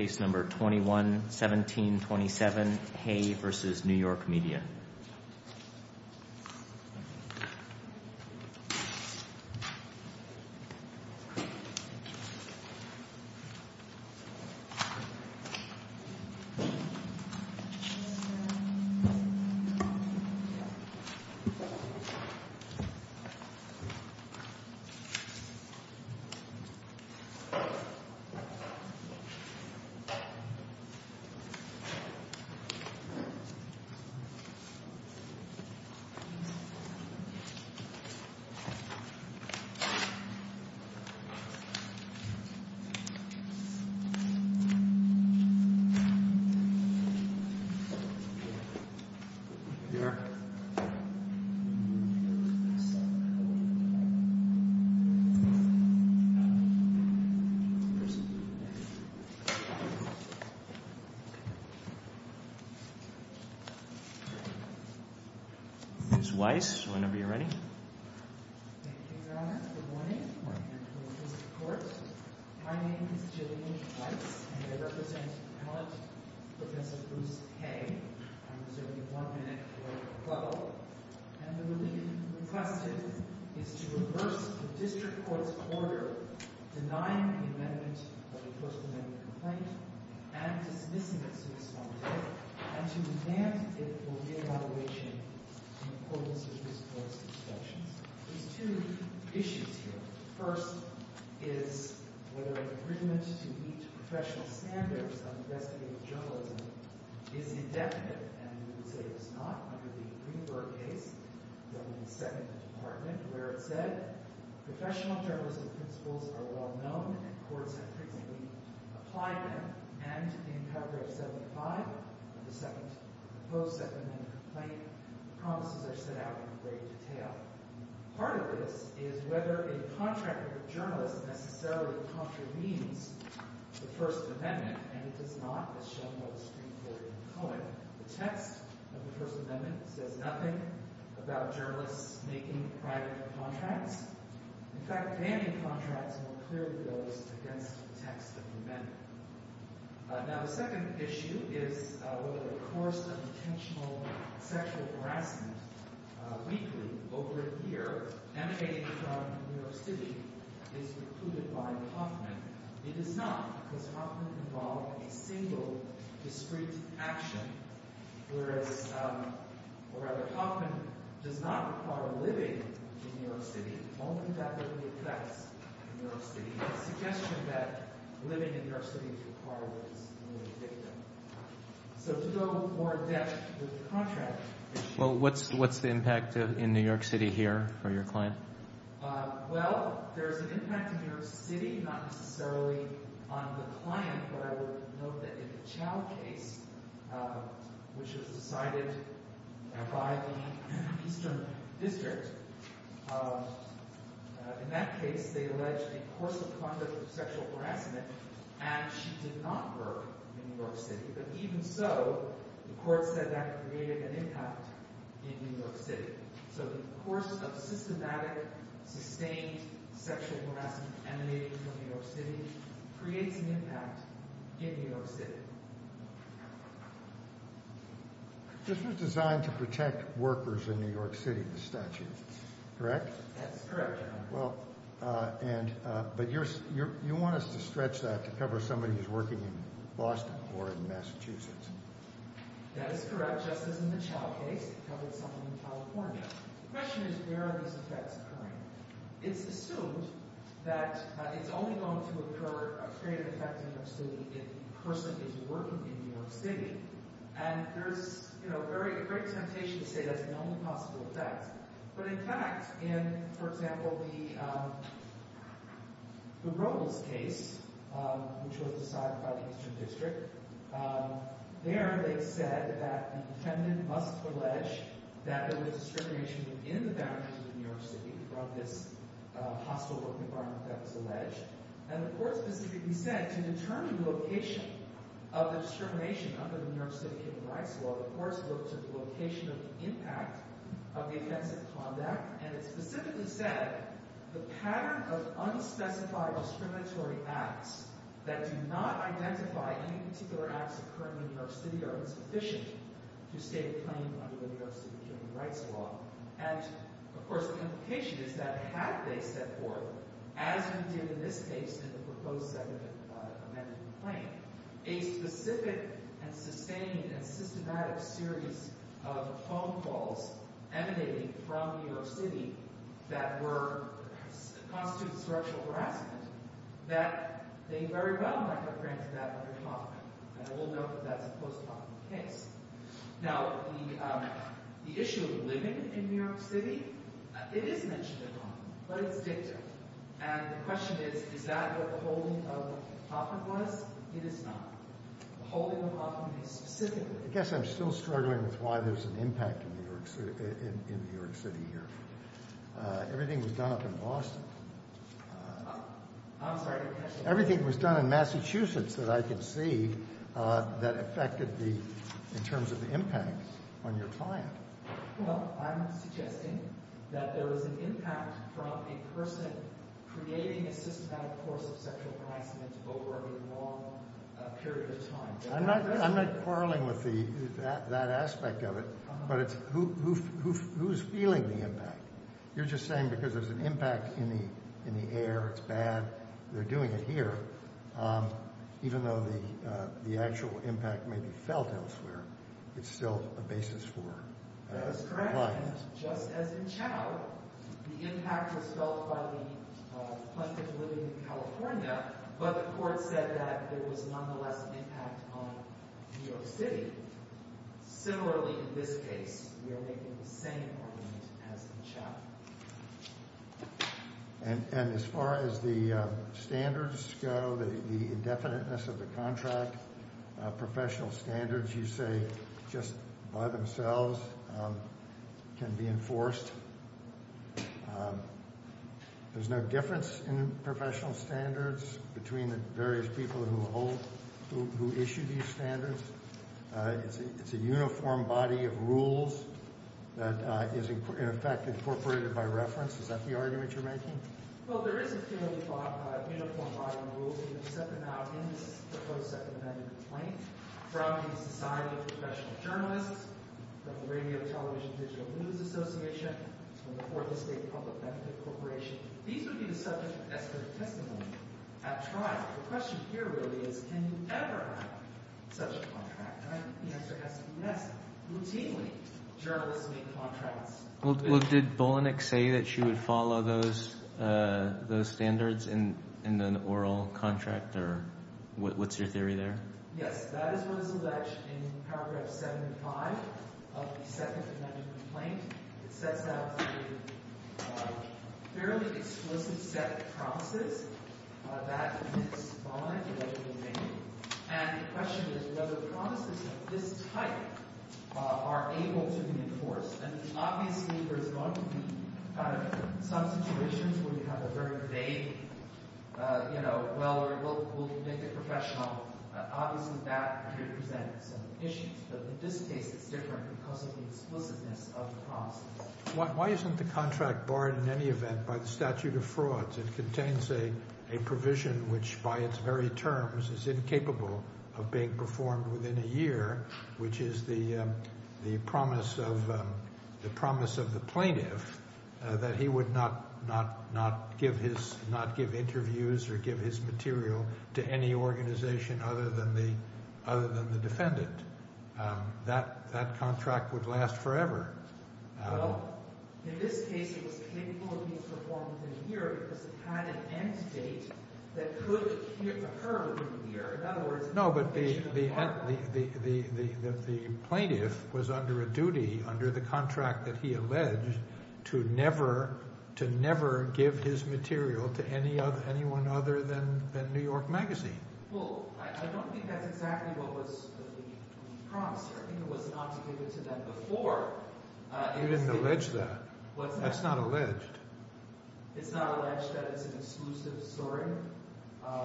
Case Number 21-1727 Hay v. New York Media Mr. Weiss, whenever you're ready. Thank you, Your Honor. Good morning. Good morning, Mr. Court. My name is Jillian Weiss, and I represent Appellant Professor Bruce Hay. I'm reserving one minute for a quote. And the relief requested is to reverse the district court's order denying the amendment of the First Amendment complaint and dismissing it to this moment, and to demand it for re-evaluation in accordance with this court's suspections. There's two issues here. First is whether an agreement to meet professional standards of investigative journalism is indefinite, and we would say it is not under the Greenberg case, the second department, where it said professional journalism principles are well known and courts have frequently applied them. And in paragraph 75 of the second, the post-second amendment complaint, promises are set out in great detail. Part of this is whether a contract with a journalist necessarily contravenes the First Amendment, and it does not, as shown by the Supreme Court in Cohen. The text of the First Amendment says nothing about journalists making private contracts. In fact, banning contracts more clearly goes against the text of the amendment. Now, the second issue is whether the course of intentional sexual harassment weekly over a year emanating from New York City is recluded by Hoffman. It is not, because Hoffman involved a single discrete action. Whereas, or rather, Hoffman does not require living in New York City. Only that living affects New York City. It's a suggestion that living in New York City is required as a victim. So to go more in depth with the contract issue. Well, what's the impact in New York City here for your client? Well, there's an impact in New York City, not necessarily on the client, but I would note that in the Chow case, which was decided by the Eastern District, in that case they alleged a course of conduct of sexual harassment, and she did not work in New York City. But even so, the court said that it created an impact in New York City. So the course of systematic, sustained sexual harassment emanating from New York City creates an impact in New York City. This was designed to protect workers in New York City, the statute, correct? That's correct, Your Honor. Well, but you want us to stretch that to cover somebody who's working in Boston or in Massachusetts. That is correct, just as in the Chow case, it covered somebody in California. The question is, where are these effects occurring? It's assumed that it's only going to occur, create an effect in New York City if the person is working in New York City. And there's, you know, a great temptation to say that's the only possible effect. But, in fact, in, for example, the Robles case, which was decided by the Eastern District, there they said that the defendant must allege that there was discrimination within the boundaries of New York City from this hostile work environment that was alleged. And the court specifically said to determine the location of the discrimination under the New York City Human Rights Law, the courts looked at the location of the impact of the offensive conduct. And it specifically said the pattern of unspecified discriminatory acts that do not identify any particular acts occurring in New York City are insufficient to state a claim under the New York City Human Rights Law. And, of course, the implication is that had they set forth, as we did in this case in the proposed amendment to the claim, a specific and sustained and systematic series of phone calls emanating from New York City that were—constituted structural harassment, that they very well might have granted that under the law. And we'll note that that's a post-trial case. Now, the issue of living in New York City, it is mentioned in the law, but it's dictated. And the question is, is that what the holding of Hoffman was? It is not. The holding of Hoffman is specifically— I guess I'm still struggling with why there's an impact in New York City here. Everything was done up in Boston. I'm sorry. Everything was done in Massachusetts that I can see that affected the—in terms of the impact on your client. Well, I'm suggesting that there was an impact from a person creating a systematic course of sexual harassment over a long period of time. I'm not quarreling with that aspect of it, but it's who's feeling the impact. You're just saying because there's an impact in the air, it's bad, they're doing it here, even though the actual impact may be felt elsewhere, it's still a basis for— That is correct. —the client. Just as in Chow, the impact was felt by the plaintiff living in California, but the court said that there was nonetheless an impact on New York City. Similarly, in this case, you're making the same argument as in Chow. And as far as the standards go, the indefiniteness of the contract, professional standards you say just by themselves can be enforced. There's no difference in professional standards between the various people who hold—who issue these standards. It's a uniform body of rules that is, in effect, incorporated by reference. Is that the argument you're making? Well, there is a fairly uniform body of rules, and you can set them out in this proposed second amendment complaint from the Society of Professional Journalists, from the Radio, Television, Digital News Association, from the Fourth Estate Public Benefit Corporation. These would be the subject of Esther's testimony at trial. The question here really is, can you ever have such a contract? And I think the answer has to be yes. Routinely, journalists make contracts. Well, did Bolenek say that she would follow those standards in an oral contract? Or what's your theory there? Yes. That is what is alleged in paragraph 75 of the second amendment complaint. It sets out a fairly exclusive set of promises that is bind to what you will make. And the question is whether promises of this type are able to be enforced. And obviously, there's going to be some situations where you have a very vague, you know, well, will you make it professional. Obviously, that represents some issues. But in this case, it's different because of the explicitness of the promise. Why isn't the contract barred in any event by the statute of frauds? which by its very terms is incapable of being performed within a year, which is the promise of the plaintiff that he would not give interviews or give his material to any organization other than the defendant. That contract would last forever. Well, in this case, it was incapable of being performed within a year because it had an end date that could occur within a year. In other words, the plaintiff was under a duty under the contract that he alleged to never give his material to anyone other than New York Magazine. Well, I don't think that's exactly what was the promise. I think it was not to give it to them before. You didn't allege that. That's not alleged. It's not alleged that it's an exclusive story?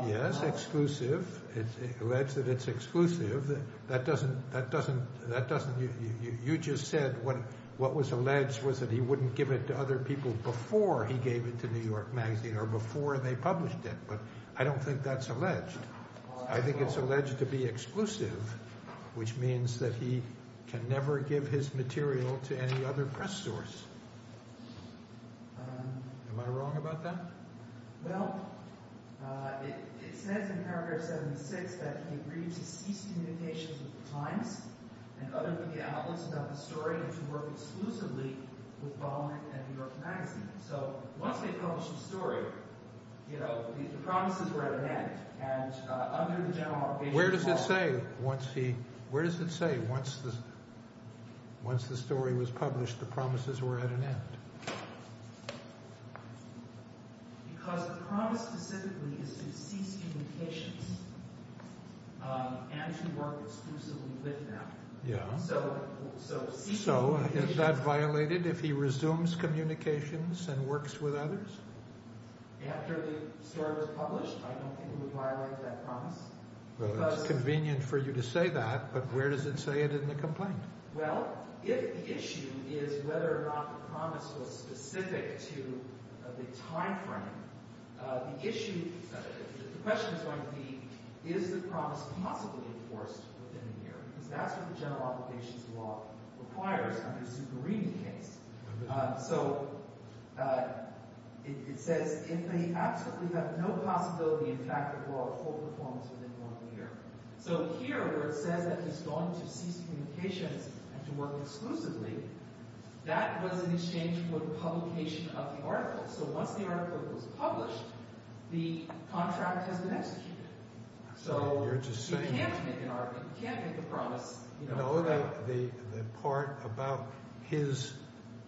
Yes, exclusive. It's alleged that it's exclusive. That doesn't, that doesn't, that doesn't. You just said what, what was alleged was that he wouldn't give it to other people before he gave it to New York Magazine or before they published it. But I don't think that's alleged. I think it's alleged to be exclusive, which means that he can never give his material to any other press source. Am I wrong about that? Well, it says in paragraph 76 that he agreed to cease communications with the Times and other media outlets about the story and to work exclusively with Baughman and New York Magazine. So once they publish the story, you know, the promises were at an end. And under the General Motivation Clause… Where does it say once he, where does it say once the, once the story was published the promises were at an end? Because the promise specifically is to cease communications and to work exclusively with them. Yeah. So is that violated if he resumes communications and works with others? After the story was published, I don't think it would violate that promise. Well, it's convenient for you to say that, but where does it say it in the complaint? Well, if the issue is whether or not the promise was specific to the timeframe, the issue, the question is going to be, is the promise possibly enforced within a year? Because that's what the General Obligations Law requires under the Zuberini case. So it says if they absolutely have no possibility, in fact, of lawful performance within one year. So here where it says that he's going to cease communications and to work exclusively, that was in exchange for the publication of the article. So once the article was published, the contract has been executed. So you're just saying… You can't make an argument. You can't make a promise. No, the part about his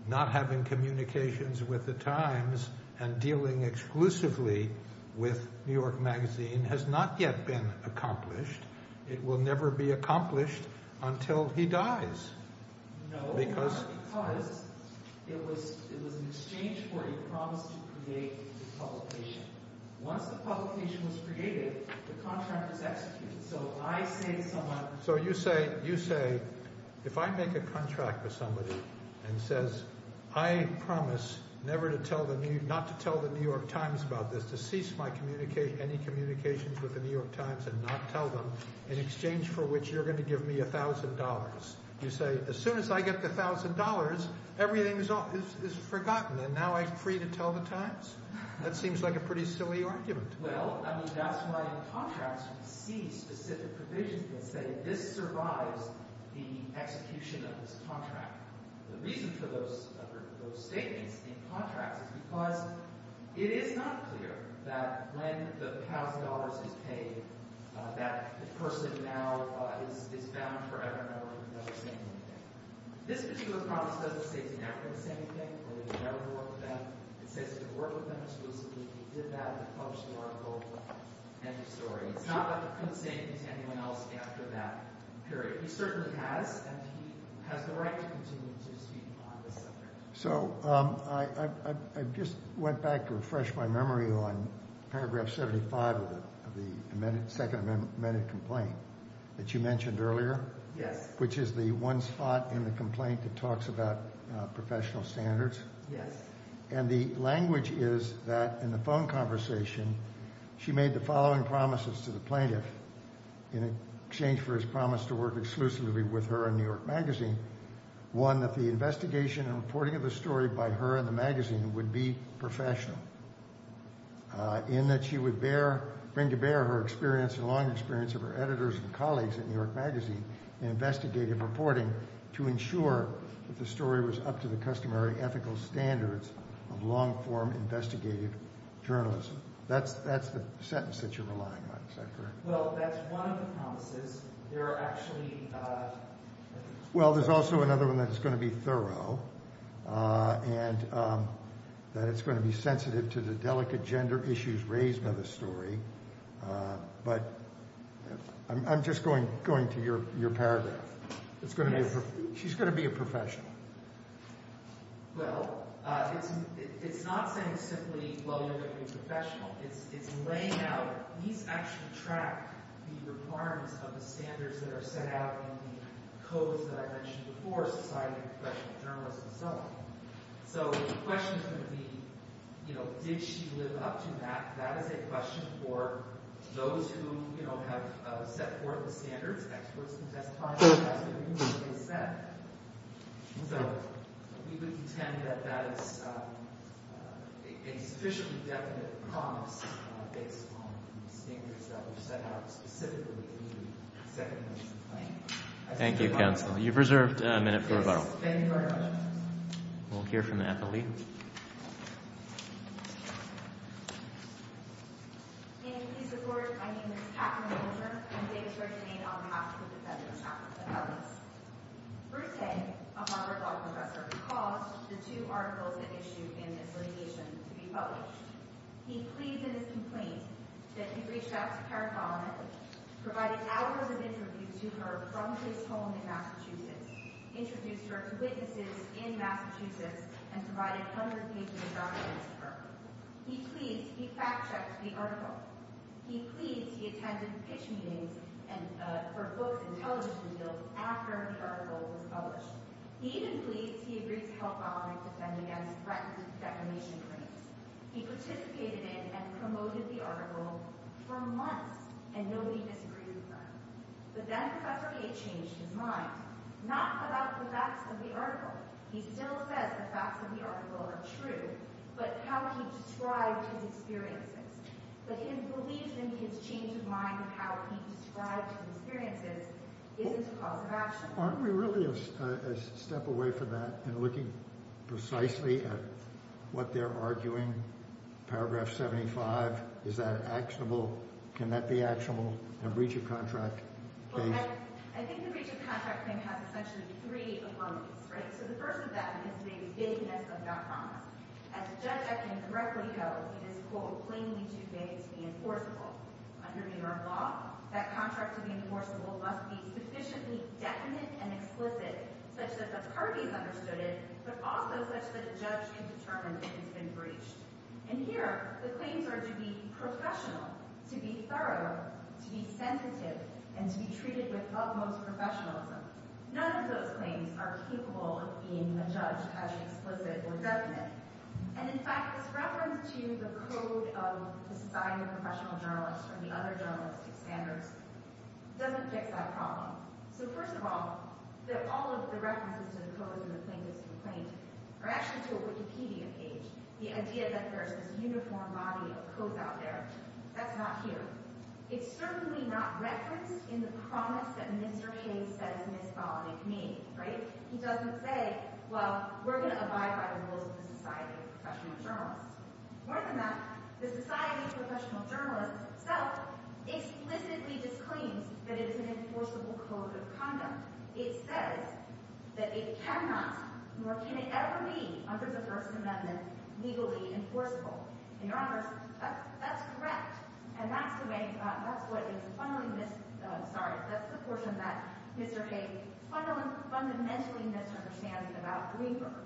not having communications with the Times and dealing exclusively with New York Magazine has not yet been accomplished. It will never be accomplished until he dies. No, because it was in exchange for a promise to create the publication. Once the publication was created, the contract was executed. So you say, if I make a contract with somebody and says, I promise never to tell the New York Times about this, to cease any communications with the New York Times and not tell them, in exchange for which you're going to give me $1,000. You say, as soon as I get the $1,000, everything is forgotten, and now I'm free to tell the Times? That seems like a pretty silly argument. Well, I mean, that's why in contracts we see specific provisions that say this survives the execution of this contract. The reason for those statements in contracts is because it is not clear that when the $1,000 is paid, that the person now is bound forever and ever to never say anything. This particular promise doesn't say he's never going to say anything, that he's never going to work with them. It says he's going to work with them exclusively. He did that in the published article, End of Story. It's not that he couldn't say anything to anyone else after that period. He certainly has, and he has the right to continue to speak on this subject. So I just went back to refresh my memory on paragraph 75 of the second amended complaint that you mentioned earlier. Yes. Which is the one spot in the complaint that talks about professional standards. Yes. And the language is that in the phone conversation, she made the following promises to the plaintiff in exchange for his promise to work exclusively with her in New York Magazine. One, that the investigation and reporting of the story by her and the magazine would be professional. In that she would bring to bear her experience, her long experience of her editors and colleagues at New York Magazine, investigative reporting to ensure that the story was up to the customary ethical standards of long-form investigative journalism. That's the sentence that you're relying on. Is that correct? Well, that's one of the promises. Well, there's also another one that's going to be thorough, and that it's going to be sensitive to the delicate gender issues raised by the story. But I'm just going to your paragraph. She's going to be a professional. Well, it's not saying simply, well, you're going to be a professional. It's laying out, at least actually track the requirements of the standards that are set out in the codes that I mentioned before, Society of Professional Journalists and so on. So the question is going to be, you know, did she live up to that? That is a question for those who, you know, have set forth the standards. So we would contend that that is a sufficiently definite promise based on the standards that were set out specifically in the second piece of the plan. Thank you, counsel. You've reserved a minute for rebuttal. Thank you very much. We'll hear from the athlete. Thank you. Thank you. Thank you. May I please record, my name is Katherine Bolger. I'm Davis-originated on behalf of the Federal Chapel of the Hellies. Bruce Hay, a Harvard Law professor, recalled the two articles that issued in this litigation to be published. He pleaded in his complaint that he reached out to Karen Bolland, provided hours of interviews to her from his home in Massachusetts, introduced her to witnesses in Massachusetts, and provided hundreds of pages of documents to her. He pleads he fact-checked the article. He pleads he attended pitch meetings for books and television deals after the article was published. He even pleads he agreed to help Bolland defend against threatened defamation claims. He participated in and promoted the article for months, and nobody disagreed with that. But then Professor Hay changed his mind, not about the facts of the article. He still says the facts of the article are true, but how he described his experiences. But his belief in his change of mind and how he described his experiences isn't a cause of action. Aren't we really a step away from that and looking precisely at what they're arguing? Paragraph 75, is that actionable? Can that be actionable? A breach of contract case? Well, I think the breach of contract thing has essentially three elements, right? So the first of that is the bigness of that promise. As a judge I can correctly tell, it is, quote, plainly too vague to be enforceable. Under New York law, that contract to be enforceable must be sufficiently definite and explicit such that the parties understood it, but also such that a judge can determine if it's been breached. And here, the claims are to be professional, to be thorough, to be sensitive, and to be treated with utmost professionalism. None of those claims are capable of being adjudged as explicit or definite. And in fact, this reference to the code of deciding a professional journalist from the other journalistic standards doesn't fix that problem. So first of all, all of the references to the codes in the plaintiff's complaint are actually to a Wikipedia page. The idea that there's this uniform body of codes out there, that's not here. It's certainly not referenced in the promise that Mr. Hayes says Ms. Ball made, right? He doesn't say, well, we're going to abide by the rules of the Society of Professional Journalists. So it explicitly disclaims that it is an enforceable code of conduct. It says that it cannot, nor can it ever be, under the First Amendment, legally enforceable. And Your Honors, that's correct. And that's the way – that's what is funneling this – sorry, that's the portion that Mr. Hayes fundamentally misunderstands about Greenberg.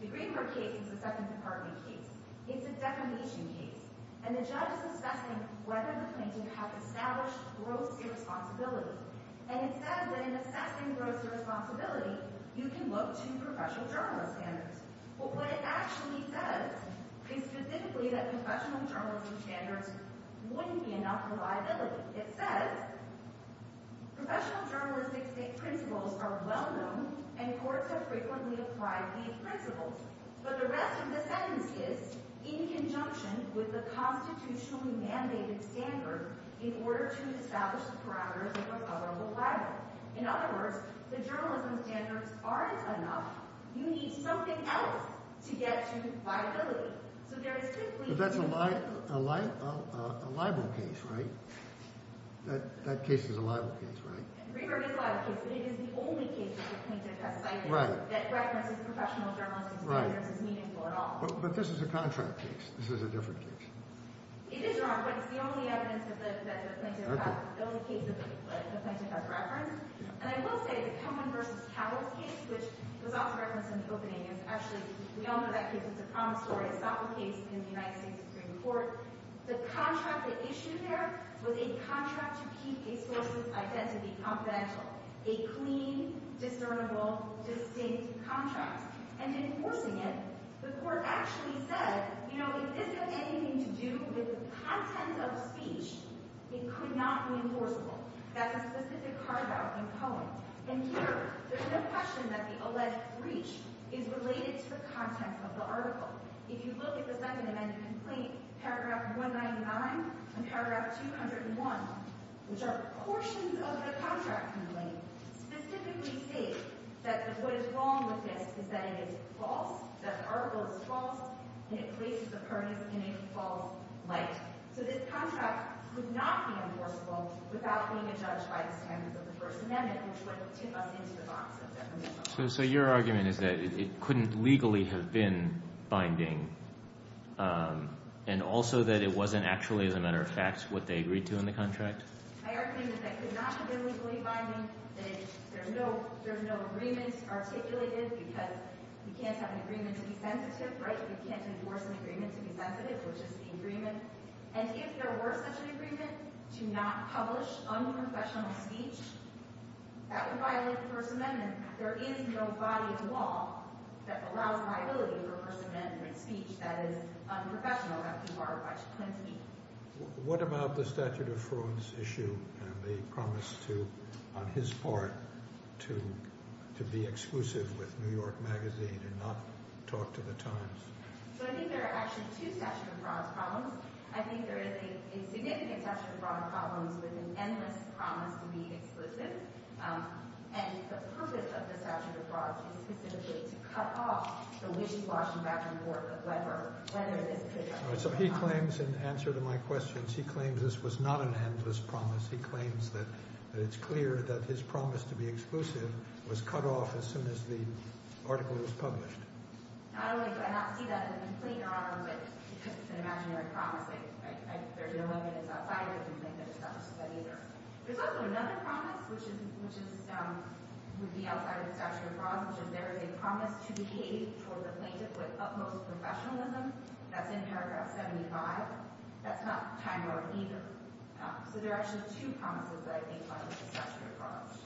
The Greenberg case is a Second Department case. It's a defamation case. And the judge is assessing whether the plaintiff has established gross irresponsibility. And it says that in assessing gross irresponsibility, you can look to professional journalist standards. But what it actually says is specifically that professional journalism standards wouldn't be enough for liability. It says, professional journalistic principles are well-known and courts have frequently applied these principles. But the rest of the sentence is, in conjunction with the constitutionally mandated standard, in order to establish the parameters of a coverable libel. In other words, the journalism standards aren't enough. You need something else to get to liability. So there is simply – But that's a libel case, right? That case is a libel case, right? Greenberg is a libel case. But it is the only case that the plaintiff has cited that references professional journalistic standards is meaningful at all. But this is a contract case. This is a different case. It is wrong, but it's the only evidence that the plaintiff has – the only case that the plaintiff has referenced. And I will say the Cohen v. Cowell case, which was also referenced in the opening, is actually – we all know that case. It's a promissory esophole case in the United States Supreme Court. The contract they issued there was a contract to keep a source's identity confidential, a clean, discernible, distinct contract. And in enforcing it, the court actually said, you know, if this has anything to do with the content of the speech, it could not be enforceable. That's a specific carve-out in Cohen. And here, there's no question that the alleged breach is related to the contents of the article. If you look at the Second Amendment complaint, paragraph 199 and paragraph 201, which are portions of the contract complaint, specifically state that what is wrong with this is that it is false, that the article is false, and it places the parties in a false light. So this contract would not be enforceable without being adjudged by the standards of the First Amendment, which would tip us into the box of definition. So your argument is that it couldn't legally have been binding and also that it wasn't actually, as a matter of fact, what they agreed to in the contract? My argument is that it could not have been legally binding, that there's no agreement articulated because you can't have an agreement to be sensitive. You can't enforce an agreement to be sensitive, which is the agreement. And if there were such an agreement to not publish unprofessional speech, that would violate the First Amendment. And there is no body of law that allows liability for First Amendment speech that is unprofessional, as you are pointing to me. What about the statute of frauds issue and the promise to, on his part, to be exclusive with New York Magazine and not talk to the Times? So I think there are actually two statute of frauds problems. I think there is a significant statute of frauds problem with an endless promise to be exclusive. And the purpose of the statute of frauds is specifically to cut off the wishy-washy back-and-forth of Weber, whether this could be a promise. All right, so he claims in answer to my questions, he claims this was not an endless promise. He claims that it's clear that his promise to be exclusive was cut off as soon as the article was published. Not only do I not see that as a complaint, Your Honor, but because it's an imaginary promise, there's no evidence outside of the complaint that it's not a promise either. There's also another promise, which would be outside of the statute of frauds, which is there is a promise to behave towards a plaintiff with utmost professionalism. That's in paragraph 75. That's not time-worn either. So there are actually two promises that I think lie with the statute of frauds.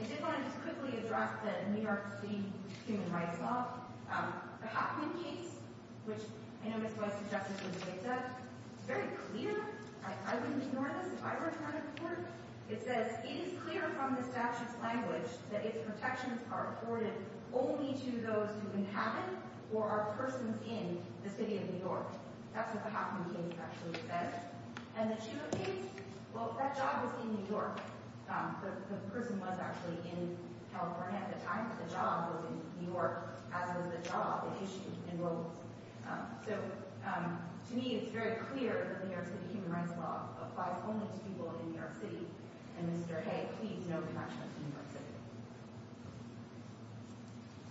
I did want to just quickly address the New York City Human Rights Law. The Hoffman case, which I know Ms. Weiss suggested was a late step, is very clear. I wouldn't ignore this if I were to run a court. It says, it is clear from the statute's language that its protections are afforded only to those who inhabit or are persons in the city of New York. That's what the Hoffman case actually said. And the Chiu case, well, that job was in New York. The person was actually in California at the time that the job was in New York, as was the job that issued enrollments. So to me, it's very clear that the New York City Human Rights Law applies only to people in New York City. And Mr. Hay, please know that I trust New York City.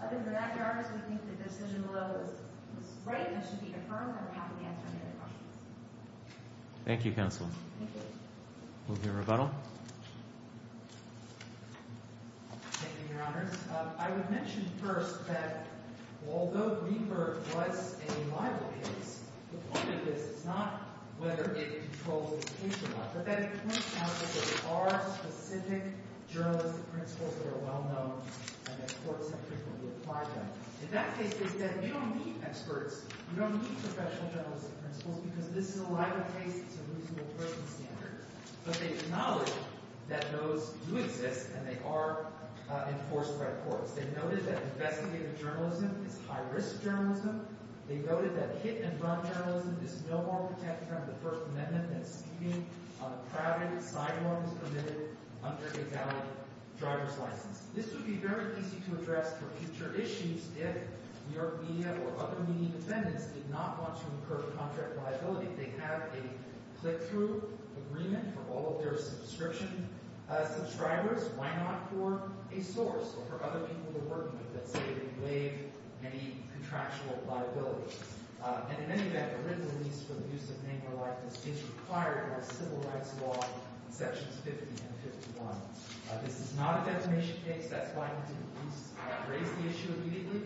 Other than that, Your Honor, I think the decision below is right and should be affirmed. I'm happy to answer any other questions. Thank you, counsel. Thank you. We'll hear rebuttal. Thank you, Your Honors. I would mention first that although Reaper was a libel case, the point of this is not whether it controls the case or not, but that it points out that there are specific journalistic principles that are well-known and that courts have frequently applied them. In that case, they said, you don't need experts. You don't need professional journalistic principles because this is a libel case. It's a reasonable person standard. But they acknowledge that those do exist, and they are enforced by courts. They noted that investigative journalism is high-risk journalism. They noted that hit-and-run journalism is no more protected under the First Amendment than speeding on a crowded sidewalk is permitted under a valid driver's license. This would be very easy to address for future issues if New York media or other media defendants did not want to incur contract liability. They have a click-through agreement for all of their subscription subscribers. Why not for a source or for other people they're working with that say they waive any contractual liability? And in any event, a written release for the use of name or likeness is required by civil rights law in Sections 50 and 51. This is not a defamation case. That's why he didn't raise the issue immediately.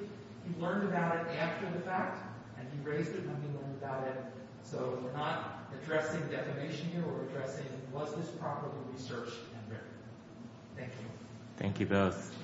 He learned about it after the fact, and he raised it when he learned about it. So we're not addressing defamation here. We're addressing was this properly researched and written. Thank you. Thank you both.